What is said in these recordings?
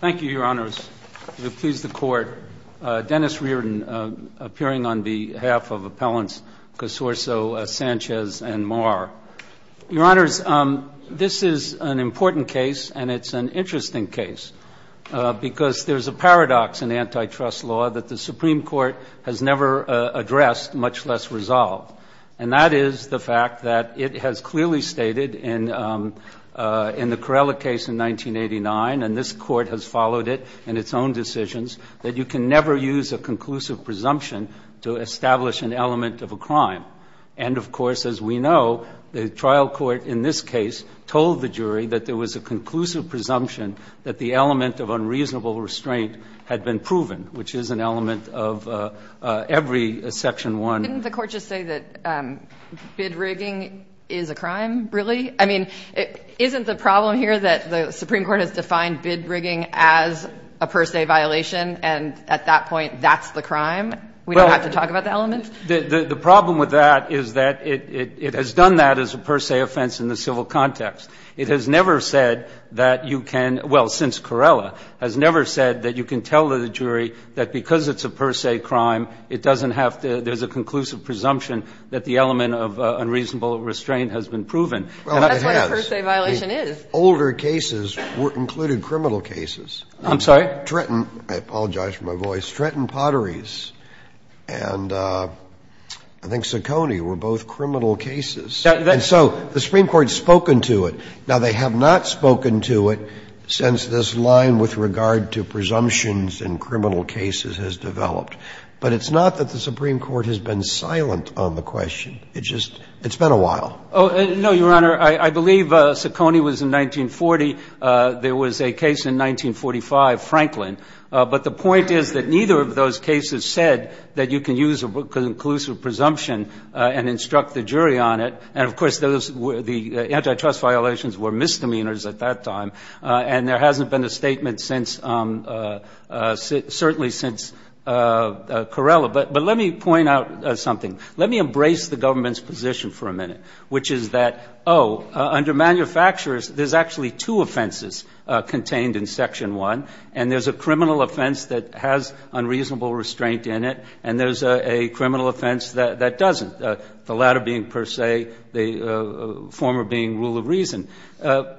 Thank you, your honors. Please, the court. Dennis Reardon, appearing on behalf of appellants Casorso, Sanchez, and Marr. Your honors, this is an important case, and it's an interesting case, because there's a paradox in antitrust law that the Supreme Court has never addressed, much less resolved. And that is the fact that it has clearly stated in the Corella case in 1989, and this Court has followed it in its own decisions, that you can never use a conclusive presumption to establish an element of a crime. And, of course, as we know, the trial court in this case told the jury that there was a conclusive presumption that the element of unreasonable restraint had been proven, which is an element of every Section 1. Kagan Didn't the Court just say that bid rigging is a crime, really? I mean, isn't the problem here that the Supreme Court has defined bid rigging as a per se violation, and at that point, that's the crime? We don't have to talk about the element? Javier Sanchez The problem with that is that it has done that as a per se offense in the civil context. It has never said that you can — well, since Corella, has never said that you can tell the jury that because it's a per se crime, it doesn't have And, in fact, there's a conclusive presumption that the element of unreasonable restraint has been proven. And that's what a per se violation is. Scalia The older cases included criminal cases. Javier Sanchez I'm sorry? Scalia Trenton — I apologize for my voice — Trenton Potteries and I think Saccone were both criminal cases. And so the Supreme Court has spoken to it. Now, they have not spoken to it since this line with regard to presumptions in criminal cases has developed. But it's not that the Supreme Court has been silent on the question. It just — it's been Javier Sanchez Oh, no, Your Honor. I believe Saccone was in 1940. There was a case in 1945, Franklin. But the point is that neither of those cases said that you can use a conclusive presumption and instruct the jury on it. And, of course, those were — the antitrust violations were misdemeanors at that time. And there hasn't been a statement since — certainly since Corella. But let me point out something. Let me embrace the government's position for a minute, which is that, oh, under manufacturers, there's actually two offenses contained in Section 1, and there's a criminal offense that has unreasonable restraint in it, and there's a criminal offense that doesn't, the latter being, per se, the former being rule of reason. Let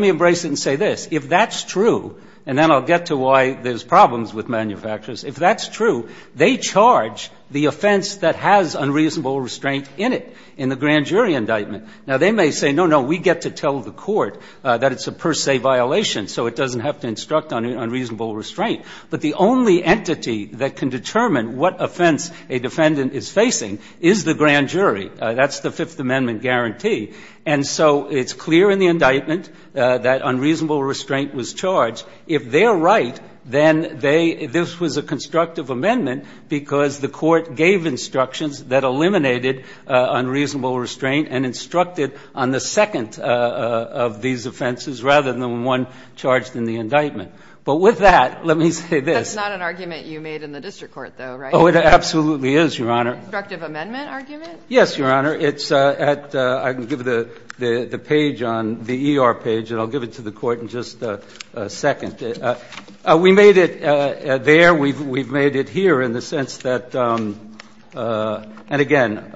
me embrace it and say this. If that's true — and then I'll get to why there's problems with manufacturers. If that's true, they charge the offense that has unreasonable restraint in it in the grand jury indictment. Now, they may say, no, no, we get to tell the court that it's a per se violation, so it doesn't have to instruct on unreasonable restraint. But the only entity that can determine what offense a defendant is facing is the grand jury. That's the Fifth Amendment guarantee. And so it's clear in the indictment that unreasonable restraint was charged. If they're right, then they — this was a constructive amendment because the court gave instructions that eliminated unreasonable restraint and instructed on the second of these offenses rather than the one charged in the indictment. But with that, let me say this. That's not an argument you made in the district court, though, right? Oh, it absolutely is, Your Honor. A constructive amendment argument? Yes, Your Honor. It's at — I can give the page on — the ER page, and I'll give it to the Court in just a second. We made it there. We've made it here in the sense that — and again,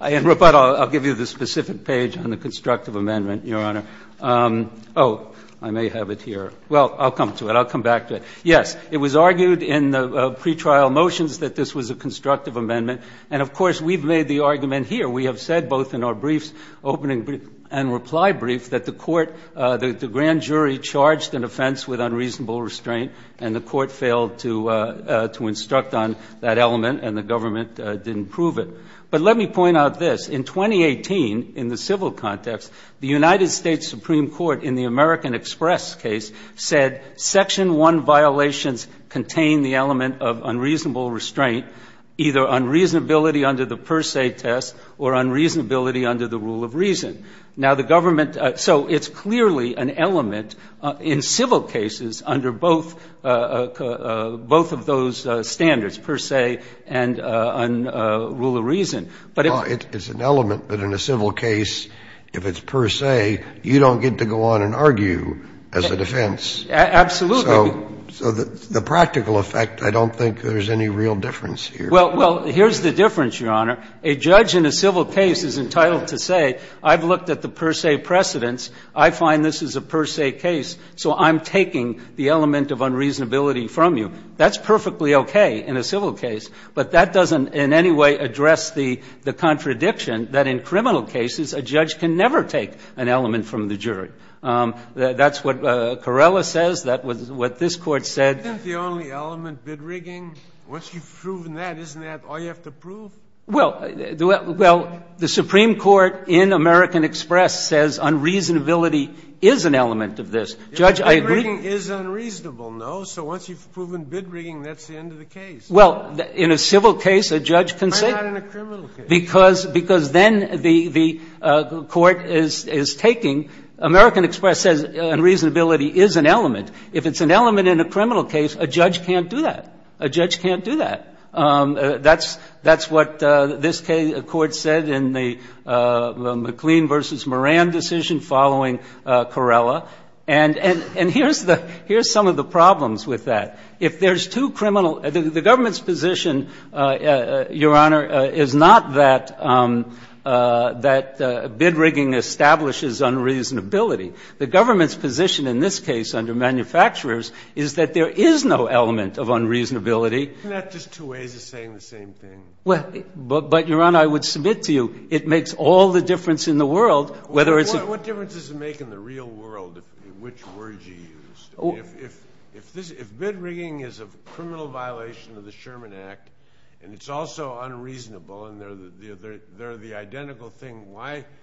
I'll give you the specific page on the constructive amendment, Your Honor. Oh, I may have it here. Well, I'll come to it. I'll come back to it. Yes, it was argued in the pretrial motions that this was a constructive amendment. And of course, we've made the argument here. We have said both in our briefs, opening and reply brief, that the court — that the grand jury charged an offense with unreasonable restraint, and the court failed to instruct on that element, and the government didn't prove it. But let me point out this. In 2018, in the civil context, the United States Supreme Court, in the American Express case, said Section 1 violations contain the element of unreasonable restraint, either unreasonability under the per se test or unreasonability under the rule of reason. Now, the government — so it's clearly an element in civil cases under both — both of those standards, per se and on rule of reason. But if — But if you're going to go on and argue as a defense, so the practical effect, I don't think there's any real difference here. Well, here's the difference, Your Honor. A judge in a civil case is entitled to say, I've looked at the per se precedents, I find this is a per se case, so I'm taking the element of unreasonability from you. That's perfectly okay in a civil case, but that doesn't in any way address the contradiction that in criminal cases, a judge can never take an element from the jury. That's what Carrella says. That was what this Court said. Isn't the only element bid rigging? Once you've proven that, isn't that all you have to prove? Well, the Supreme Court in American Express says unreasonability is an element of this. Judge, I agree — Bid rigging is unreasonable, no? So once you've proven bid rigging, that's the end of the case. Well, in a civil case, a judge can say — But not in a criminal case. Because then the Court is taking — American Express says unreasonability is an element. If it's an element in a criminal case, a judge can't do that. A judge can't do that. That's what this Court said in the McLean v. Moran decision following Carrella. And here's the — here's some of the problems with that. If there's two criminal — the government's position, Your Honor, is not that — that bid rigging establishes unreasonability. The government's position in this case under manufacturers is that there is no element of unreasonability. Isn't that just two ways of saying the same thing? But, Your Honor, I would submit to you it makes all the difference in the world whether it's — What difference does it make in the real world which word you used? If bid rigging is a criminal violation of the Sherman Act, and it's also unreasonable, and they're the identical thing, why —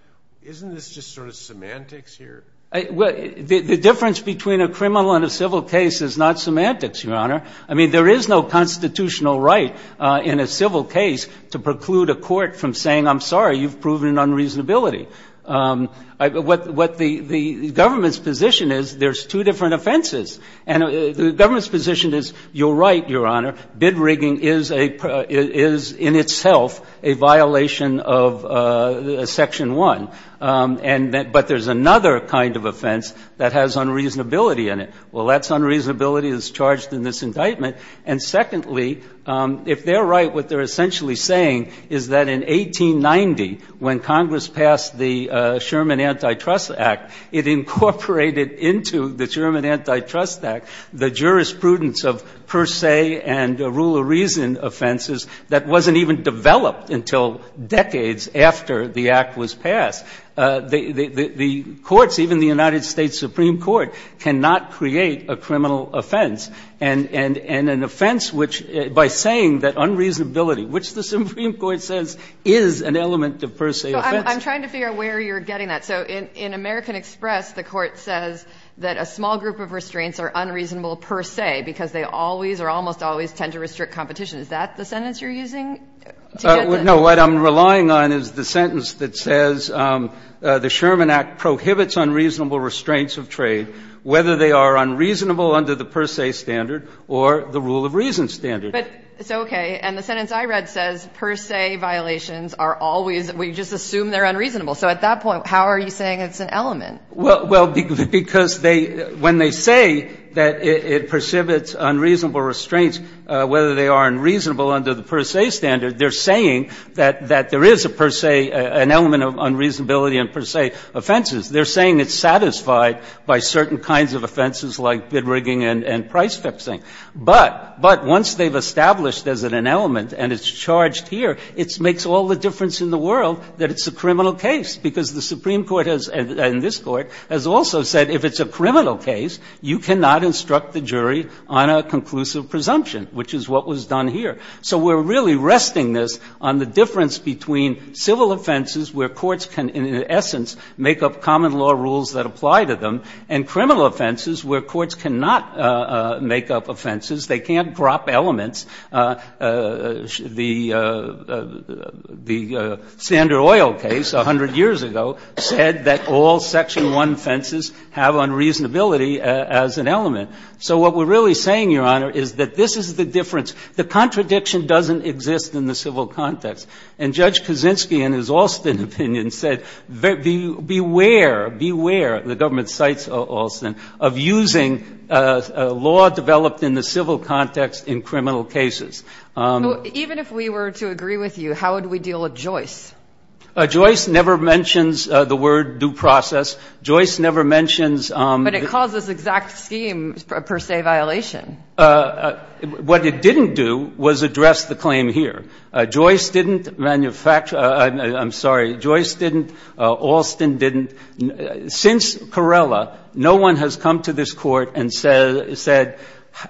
isn't this just sort of semantics here? Well, the difference between a criminal and a civil case is not semantics, Your Honor. I mean, there is no constitutional right in a civil case to preclude a court from saying, I'm sorry, you've proven an unreasonability. What the government's position is, there's two different offenses. And the government's position is, you're right, Your Honor, bid rigging is a — is in itself a violation of Section 1. And — but there's another kind of offense that has unreasonability in it. Well, that's unreasonability that's charged in this indictment. And secondly, if they're right, what they're essentially saying is that in 1890, when Congress passed the Sherman Antitrust Act, it incorporated into the Sherman Antitrust Act the jurisprudence of per se and rule of reason offenses that wasn't even developed until decades after the Act was passed. The courts, even the United States Supreme Court, cannot create a criminal offense and an offense which, by saying that unreasonability, which the Supreme Court says is an element of per se offense. So I'm trying to figure out where you're getting that. So in American Express, the Court says that a small group of restraints are unreasonable per se because they always or almost always tend to restrict competition. Is that the sentence you're using to get the — No. What I'm relying on is the sentence that says the Sherman Act prohibits unreasonable restraints of trade, whether they are unreasonable under the per se standard or the rule of reason standard. But it's okay. And the sentence I read says per se violations are always — we just assume they're unreasonable. So at that point, how are you saying it's an element? Well, because they — when they say that it precipitates unreasonable restraints, whether they are unreasonable under the per se standard, they're saying that there is a per se — an element of unreasonability in per se offenses. They're saying it's satisfied by certain kinds of offenses like bid rigging and price fixing. But once they've established there's an element and it's charged here, it makes all the difference in the world that it's a criminal case, because the Supreme Court has — and this Court has also said if it's a criminal case, you cannot instruct the jury on a conclusive presumption, which is what was done here. So we're really resting this on the difference between civil offenses where courts can in essence make up common law rules that apply to them and criminal offenses where courts cannot make up offenses, they can't drop elements. The Sander Oil case 100 years ago said that all Section 1 offenses have unreasonability as an element. So what we're really saying, Your Honor, is that this is the difference. The contradiction doesn't exist in the civil context. And Judge Kaczynski in his Alston opinion said beware, beware, the government cites Alston, of using law developed in the civil context in criminal cases. Even if we were to agree with you, how would we deal with Joyce? Joyce never mentions the word due process. Joyce never mentions — But it calls this exact scheme a per se violation. What it didn't do was address the claim here. Joyce didn't manufacture — I'm sorry. Joyce didn't. Alston didn't. Since Carrella, no one has come to this Court and said,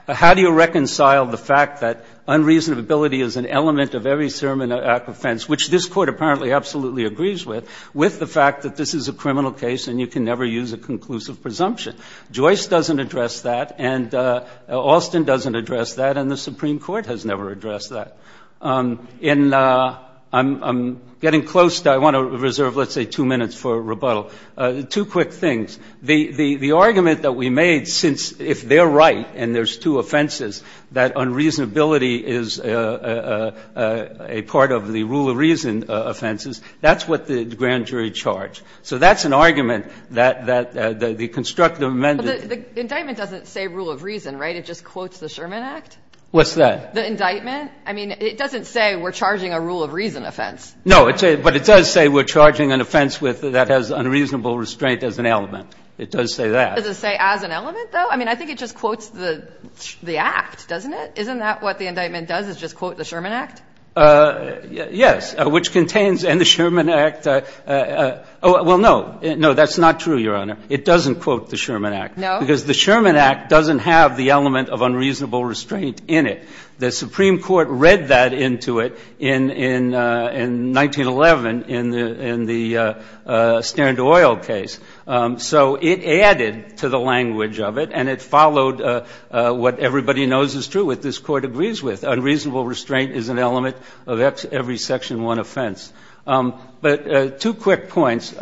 how do you reconcile the fact that unreasonability is an element of every sermon of offense, which this Court apparently absolutely agrees with, with the fact that this is a criminal case and you can never use a conclusive presumption. Joyce doesn't address that. And Alston doesn't address that. And the Supreme Court has never addressed that. I'm getting close to — I want to reserve, let's say, two minutes for rebuttal. Two quick things. The argument that we made, since if they're right and there's two offenses, that unreasonability is a part of the rule of reason offenses, that's what the grand jury charged. So that's an argument that the constructive amendment — But the indictment doesn't say rule of reason, right? It just quotes the Sherman Act? What's that? The indictment? I mean, it doesn't say we're charging a rule of reason offense. No. But it does say we're charging an offense that has unreasonable restraint as an element. It does say that. Does it say as an element, though? I mean, I think it just quotes the Act, doesn't it? Isn't that what the indictment does, is just quote the Sherman Act? Yes. Which contains — and the Sherman Act — well, no. No, that's not true, Your Honor. It doesn't quote the Sherman Act. No? Because the Sherman Act doesn't have the element of unreasonable restraint in it. The Supreme Court read that into it in 1911 in the — in the Stand Oil case. So it added to the language of it, and it followed what everybody knows is true, what this Court agrees with. Unreasonable restraint is an element of every Section 1 offense. But two quick points.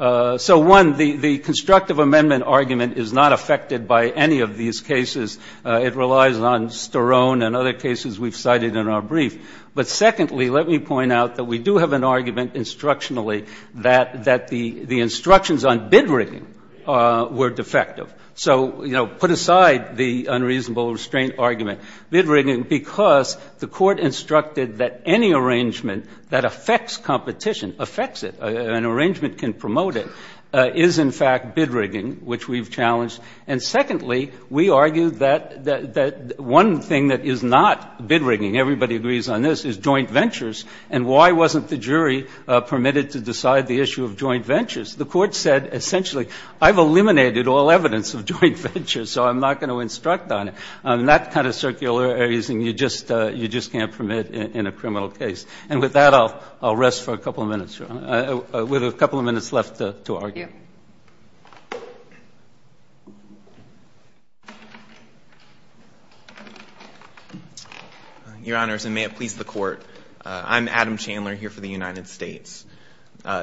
So, one, the constructive amendment argument is not affected by any of these cases. It relies on Sterone and other cases we've cited in our brief. But secondly, let me point out that we do have an argument instructionally that the instructions on bid rigging were defective. So, you know, put aside the unreasonable restraint argument. Bid rigging, because the Court instructed that any arrangement that affects competition, affects it, an arrangement can promote it, is in fact bid rigging, which we've challenged. And secondly, we argue that one thing that is not bid rigging, everybody agrees on this, is joint ventures. And why wasn't the jury permitted to decide the issue of joint ventures? The Court said essentially, I've eliminated all evidence of joint ventures, so I'm not going to instruct on it. That kind of circular areas, you just can't permit in a criminal case. And with that, I'll rest for a couple of minutes. We have a couple of minutes left to argue. Your Honors, and may it please the Court. I'm Adam Chandler here for the United States.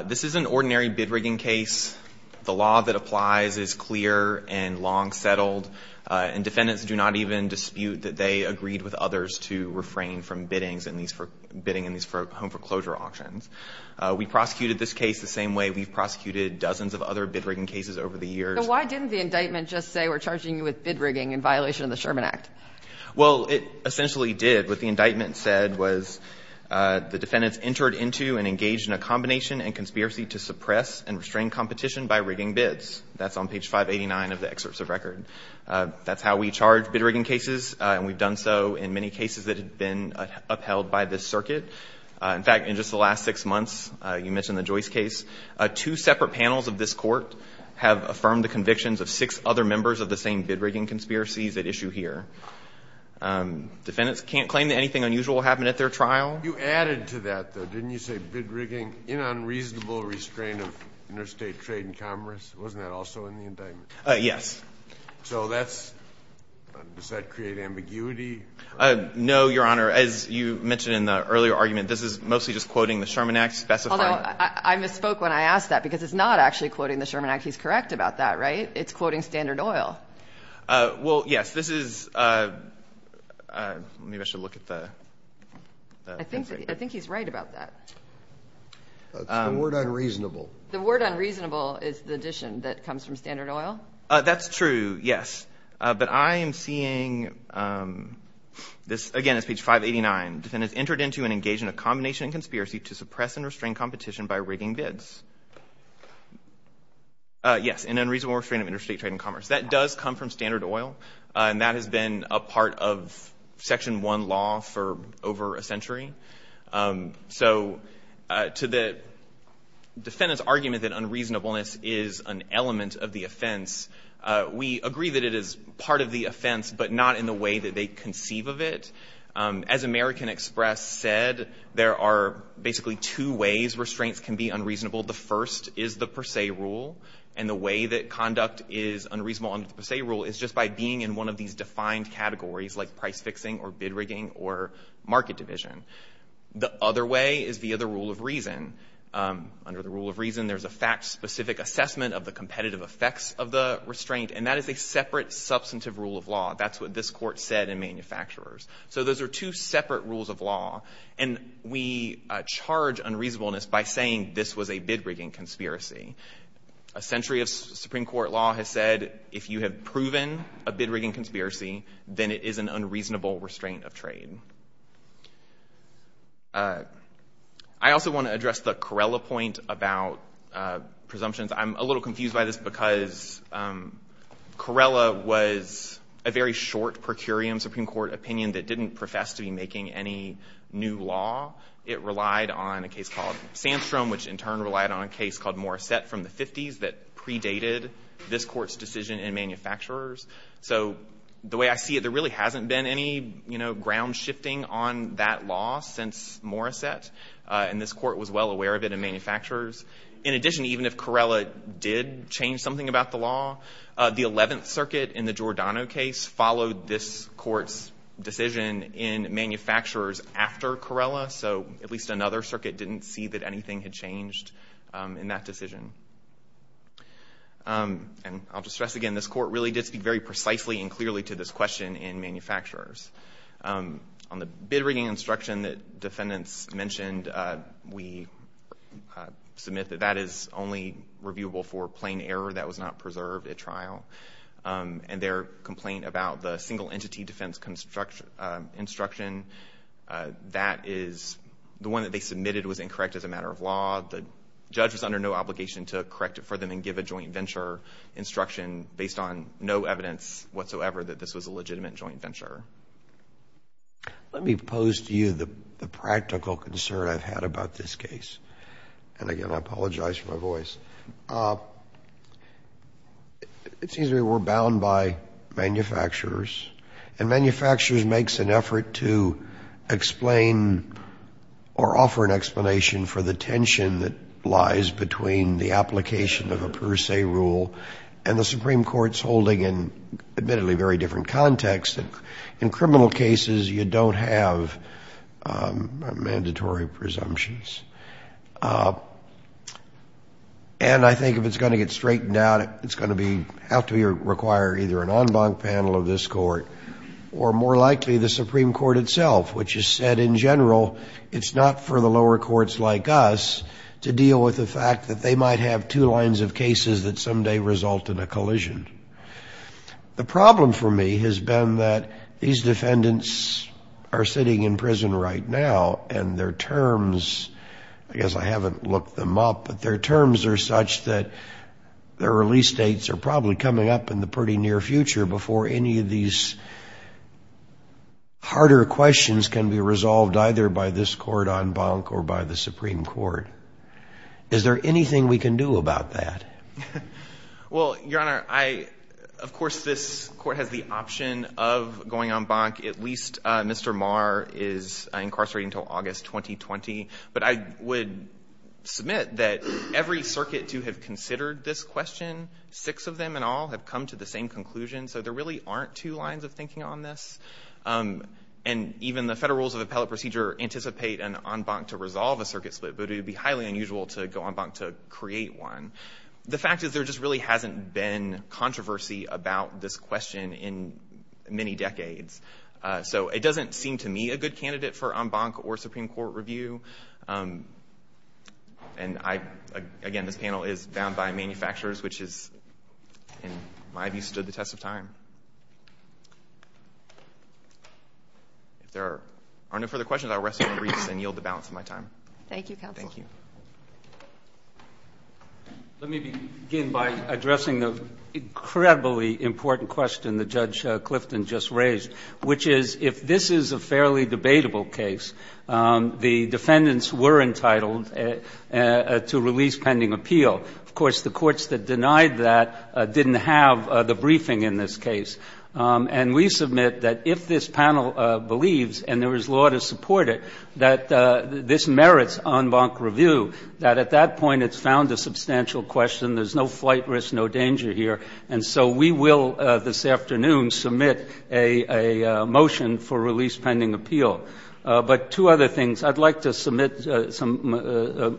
This is an ordinary bid rigging case. The law that applies is clear and long settled. And defendants do not even dispute that they agreed with others to refrain from bidding in these home foreclosure auctions. We prosecuted this case the same way we've prosecuted dozens of other bid rigging cases over the years. So why didn't the indictment just say we're charging you with bid rigging in violation of the Sherman Act? Well, it essentially did. What the indictment said was the defendants entered into and engaged in a combination and conspiracy to suppress and restrain competition by rigging bids. That's on page 589 of the excerpts of record. That's how we charge bid rigging cases, and we've done so in many cases that have been upheld by this circuit. In fact, in just the last six months, you mentioned the Joyce case, two separate panels of this Court have affirmed the convictions of six other members of the same bid rigging conspiracies at issue here. Defendants can't claim that anything unusual happened at their trial. You added to that, though, didn't you say bid rigging in unreasonable restraint of interstate trade and commerce? Wasn't that also in the indictment? Yes. So that's – does that create ambiguity? No, Your Honor. As you mentioned in the earlier argument, this is mostly just quoting the Sherman Act specified. Although I misspoke when I asked that because it's not actually quoting the Sherman Act. He's correct about that, right? It's quoting Standard Oil. Well, yes. This is – maybe I should look at the – I think he's right about that. It's the word unreasonable. The word unreasonable is the addition that comes from Standard Oil? That's true, yes. But I am seeing this – again, it's page 589. Defendants entered into and engaged in a combination conspiracy to suppress and restrain competition by rigging bids. Yes, in unreasonable restraint of interstate trade and commerce. That does come from Standard Oil, and that has been a part of Section 1 law for over a century. So to the defendant's argument that unreasonableness is an element of the offense, we agree that it is part of the offense, but not in the way that they conceive of it. As American Express said, there are basically two ways restraints can be unreasonable. The first is the per se rule, and the way that conduct is unreasonable under the per se rule is just by being in one of these defined categories like price and quantity. The other way is via the rule of reason. Under the rule of reason, there's a fact-specific assessment of the competitive effects of the restraint, and that is a separate substantive rule of law. That's what this Court said in Manufacturers. So those are two separate rules of law, and we charge unreasonableness by saying this was a bid-rigging conspiracy. A century of Supreme Court law has said if you have proven a bid-rigging I also want to address the Corella point about presumptions. I'm a little confused by this because Corella was a very short per curiam Supreme Court opinion that didn't profess to be making any new law. It relied on a case called Sandstrom, which in turn relied on a case called Morissette from the 50s that predated this Court's decision in Manufacturers. So the way I see it, there really hasn't been any, you know, ground-shifting on that law since Morissette, and this Court was well aware of it in Manufacturers. In addition, even if Corella did change something about the law, the Eleventh Circuit in the Giordano case followed this Court's decision in Manufacturers after Corella, so at least another circuit didn't see that anything had changed in that decision. And I'll just stress again, this Court really did speak very precisely and the bid-rigging instruction that defendants mentioned, we submit that that is only reviewable for plain error that was not preserved at trial. And their complaint about the single entity defense instruction, that is, the one that they submitted was incorrect as a matter of law. The judge was under no obligation to correct it for them and give a joint venture instruction based on no evidence whatsoever that this was a legitimate joint venture. Let me pose to you the practical concern I've had about this case. And again, I apologize for my voice. It seems we're bound by Manufacturers, and Manufacturers makes an effort to explain or offer an explanation for the tension that lies between the application of a per se rule and the Supreme Court's holding in, admittedly, very different context. In criminal cases, you don't have mandatory presumptions. And I think if it's going to get straightened out, it's going to have to require either an en banc panel of this Court or more likely the Supreme Court itself, which has said in general it's not for the lower courts like us to deal with the fact that they might have two lines of cases that someday result in a collision. The problem for me has been that these defendants are sitting in prison right now, and their terms, I guess I haven't looked them up, but their terms are such that their release dates are probably coming up in the pretty near future before any of these harder questions can be resolved either by this court en banc or by the Supreme Court. Is there anything we can do about that? Well, Your Honor, I, of course, this Court has the option of going en banc. At least Mr. Marr is incarcerated until August 2020. But I would submit that every circuit to have considered this question, six of them in all have come to the same conclusion, so there really aren't two lines of thinking on this. And even the Federal Rules of Appellate Procedure anticipate an en banc to resolve a circuit split, but it would be highly unusual to go en banc to create one. The fact is there just really hasn't been controversy about this question in many decades, so it doesn't seem to me a good candidate for en banc or Supreme Court review. And I, again, this panel is bound by manufacturers, which is, in my view, the most important thing. If there are no further questions, I will rest my briefs and yield the balance of my time. Thank you, counsel. Thank you. Let me begin by addressing the incredibly important question that Judge Clifton just raised, which is if this is a fairly debatable case, the defendants were entitled to release pending appeal. Of course, the courts that denied that didn't have the briefing in this case. And we submit that if this panel believes, and there is law to support it, that this merits en banc review, that at that point it's found a substantial question. There's no flight risk, no danger here. And so we will this afternoon submit a motion for release pending appeal. But two other things. I'd like to submit some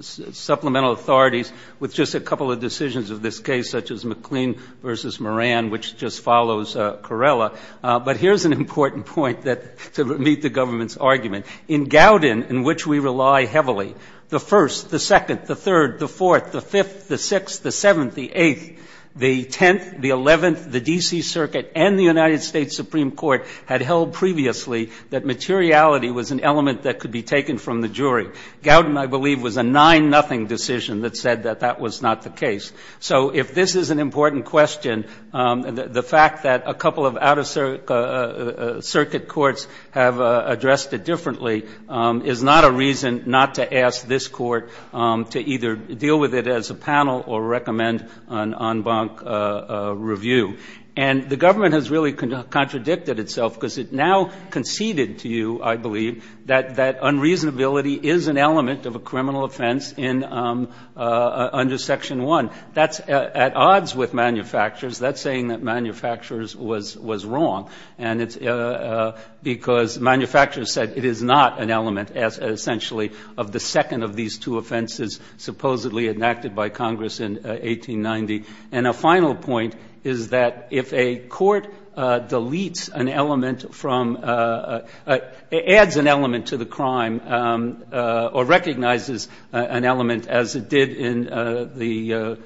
supplemental authorities with just a couple of decisions of this case, such as McLean v. Moran, which just follows Carrella. But here's an important point that to meet the government's argument. In Gowdin, in which we rely heavily, the First, the Second, the Third, the Fourth, the Fifth, the Sixth, the Seventh, the Eighth, the Tenth, the Eleventh, the D.C. materiality was an element that could be taken from the jury. Gowdin, I believe, was a 9-0 decision that said that that was not the case. So if this is an important question, the fact that a couple of out-of-circuit courts have addressed it differently is not a reason not to ask this court to either deal with it as a panel or recommend an en banc review. And the government has really contradicted itself because it now conceded to you, I believe, that that unreasonability is an element of a criminal offense under Section 1. That's at odds with manufacturers. That's saying that manufacturers was wrong. And it's because manufacturers said it is not an element, essentially, of the second of these two offenses supposedly enacted by Congress in 1890. And a final point is that if a court deletes an element from adds an element to the crime or recognizes an element as it did in the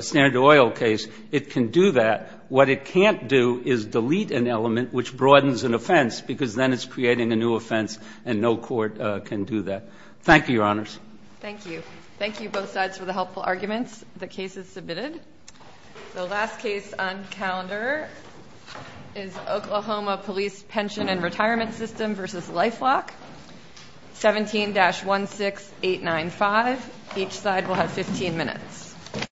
standard oil case, it can do that. What it can't do is delete an element which broadens an offense because then it's creating a new offense and no court can do that. Thank you, Your Honors. Thank you. Thank you, both sides, for the helpful arguments. The case is submitted. The last case on calendar is Oklahoma Police Pension and Retirement System v. Life Lock, 17-16895. Each side will have 15 minutes.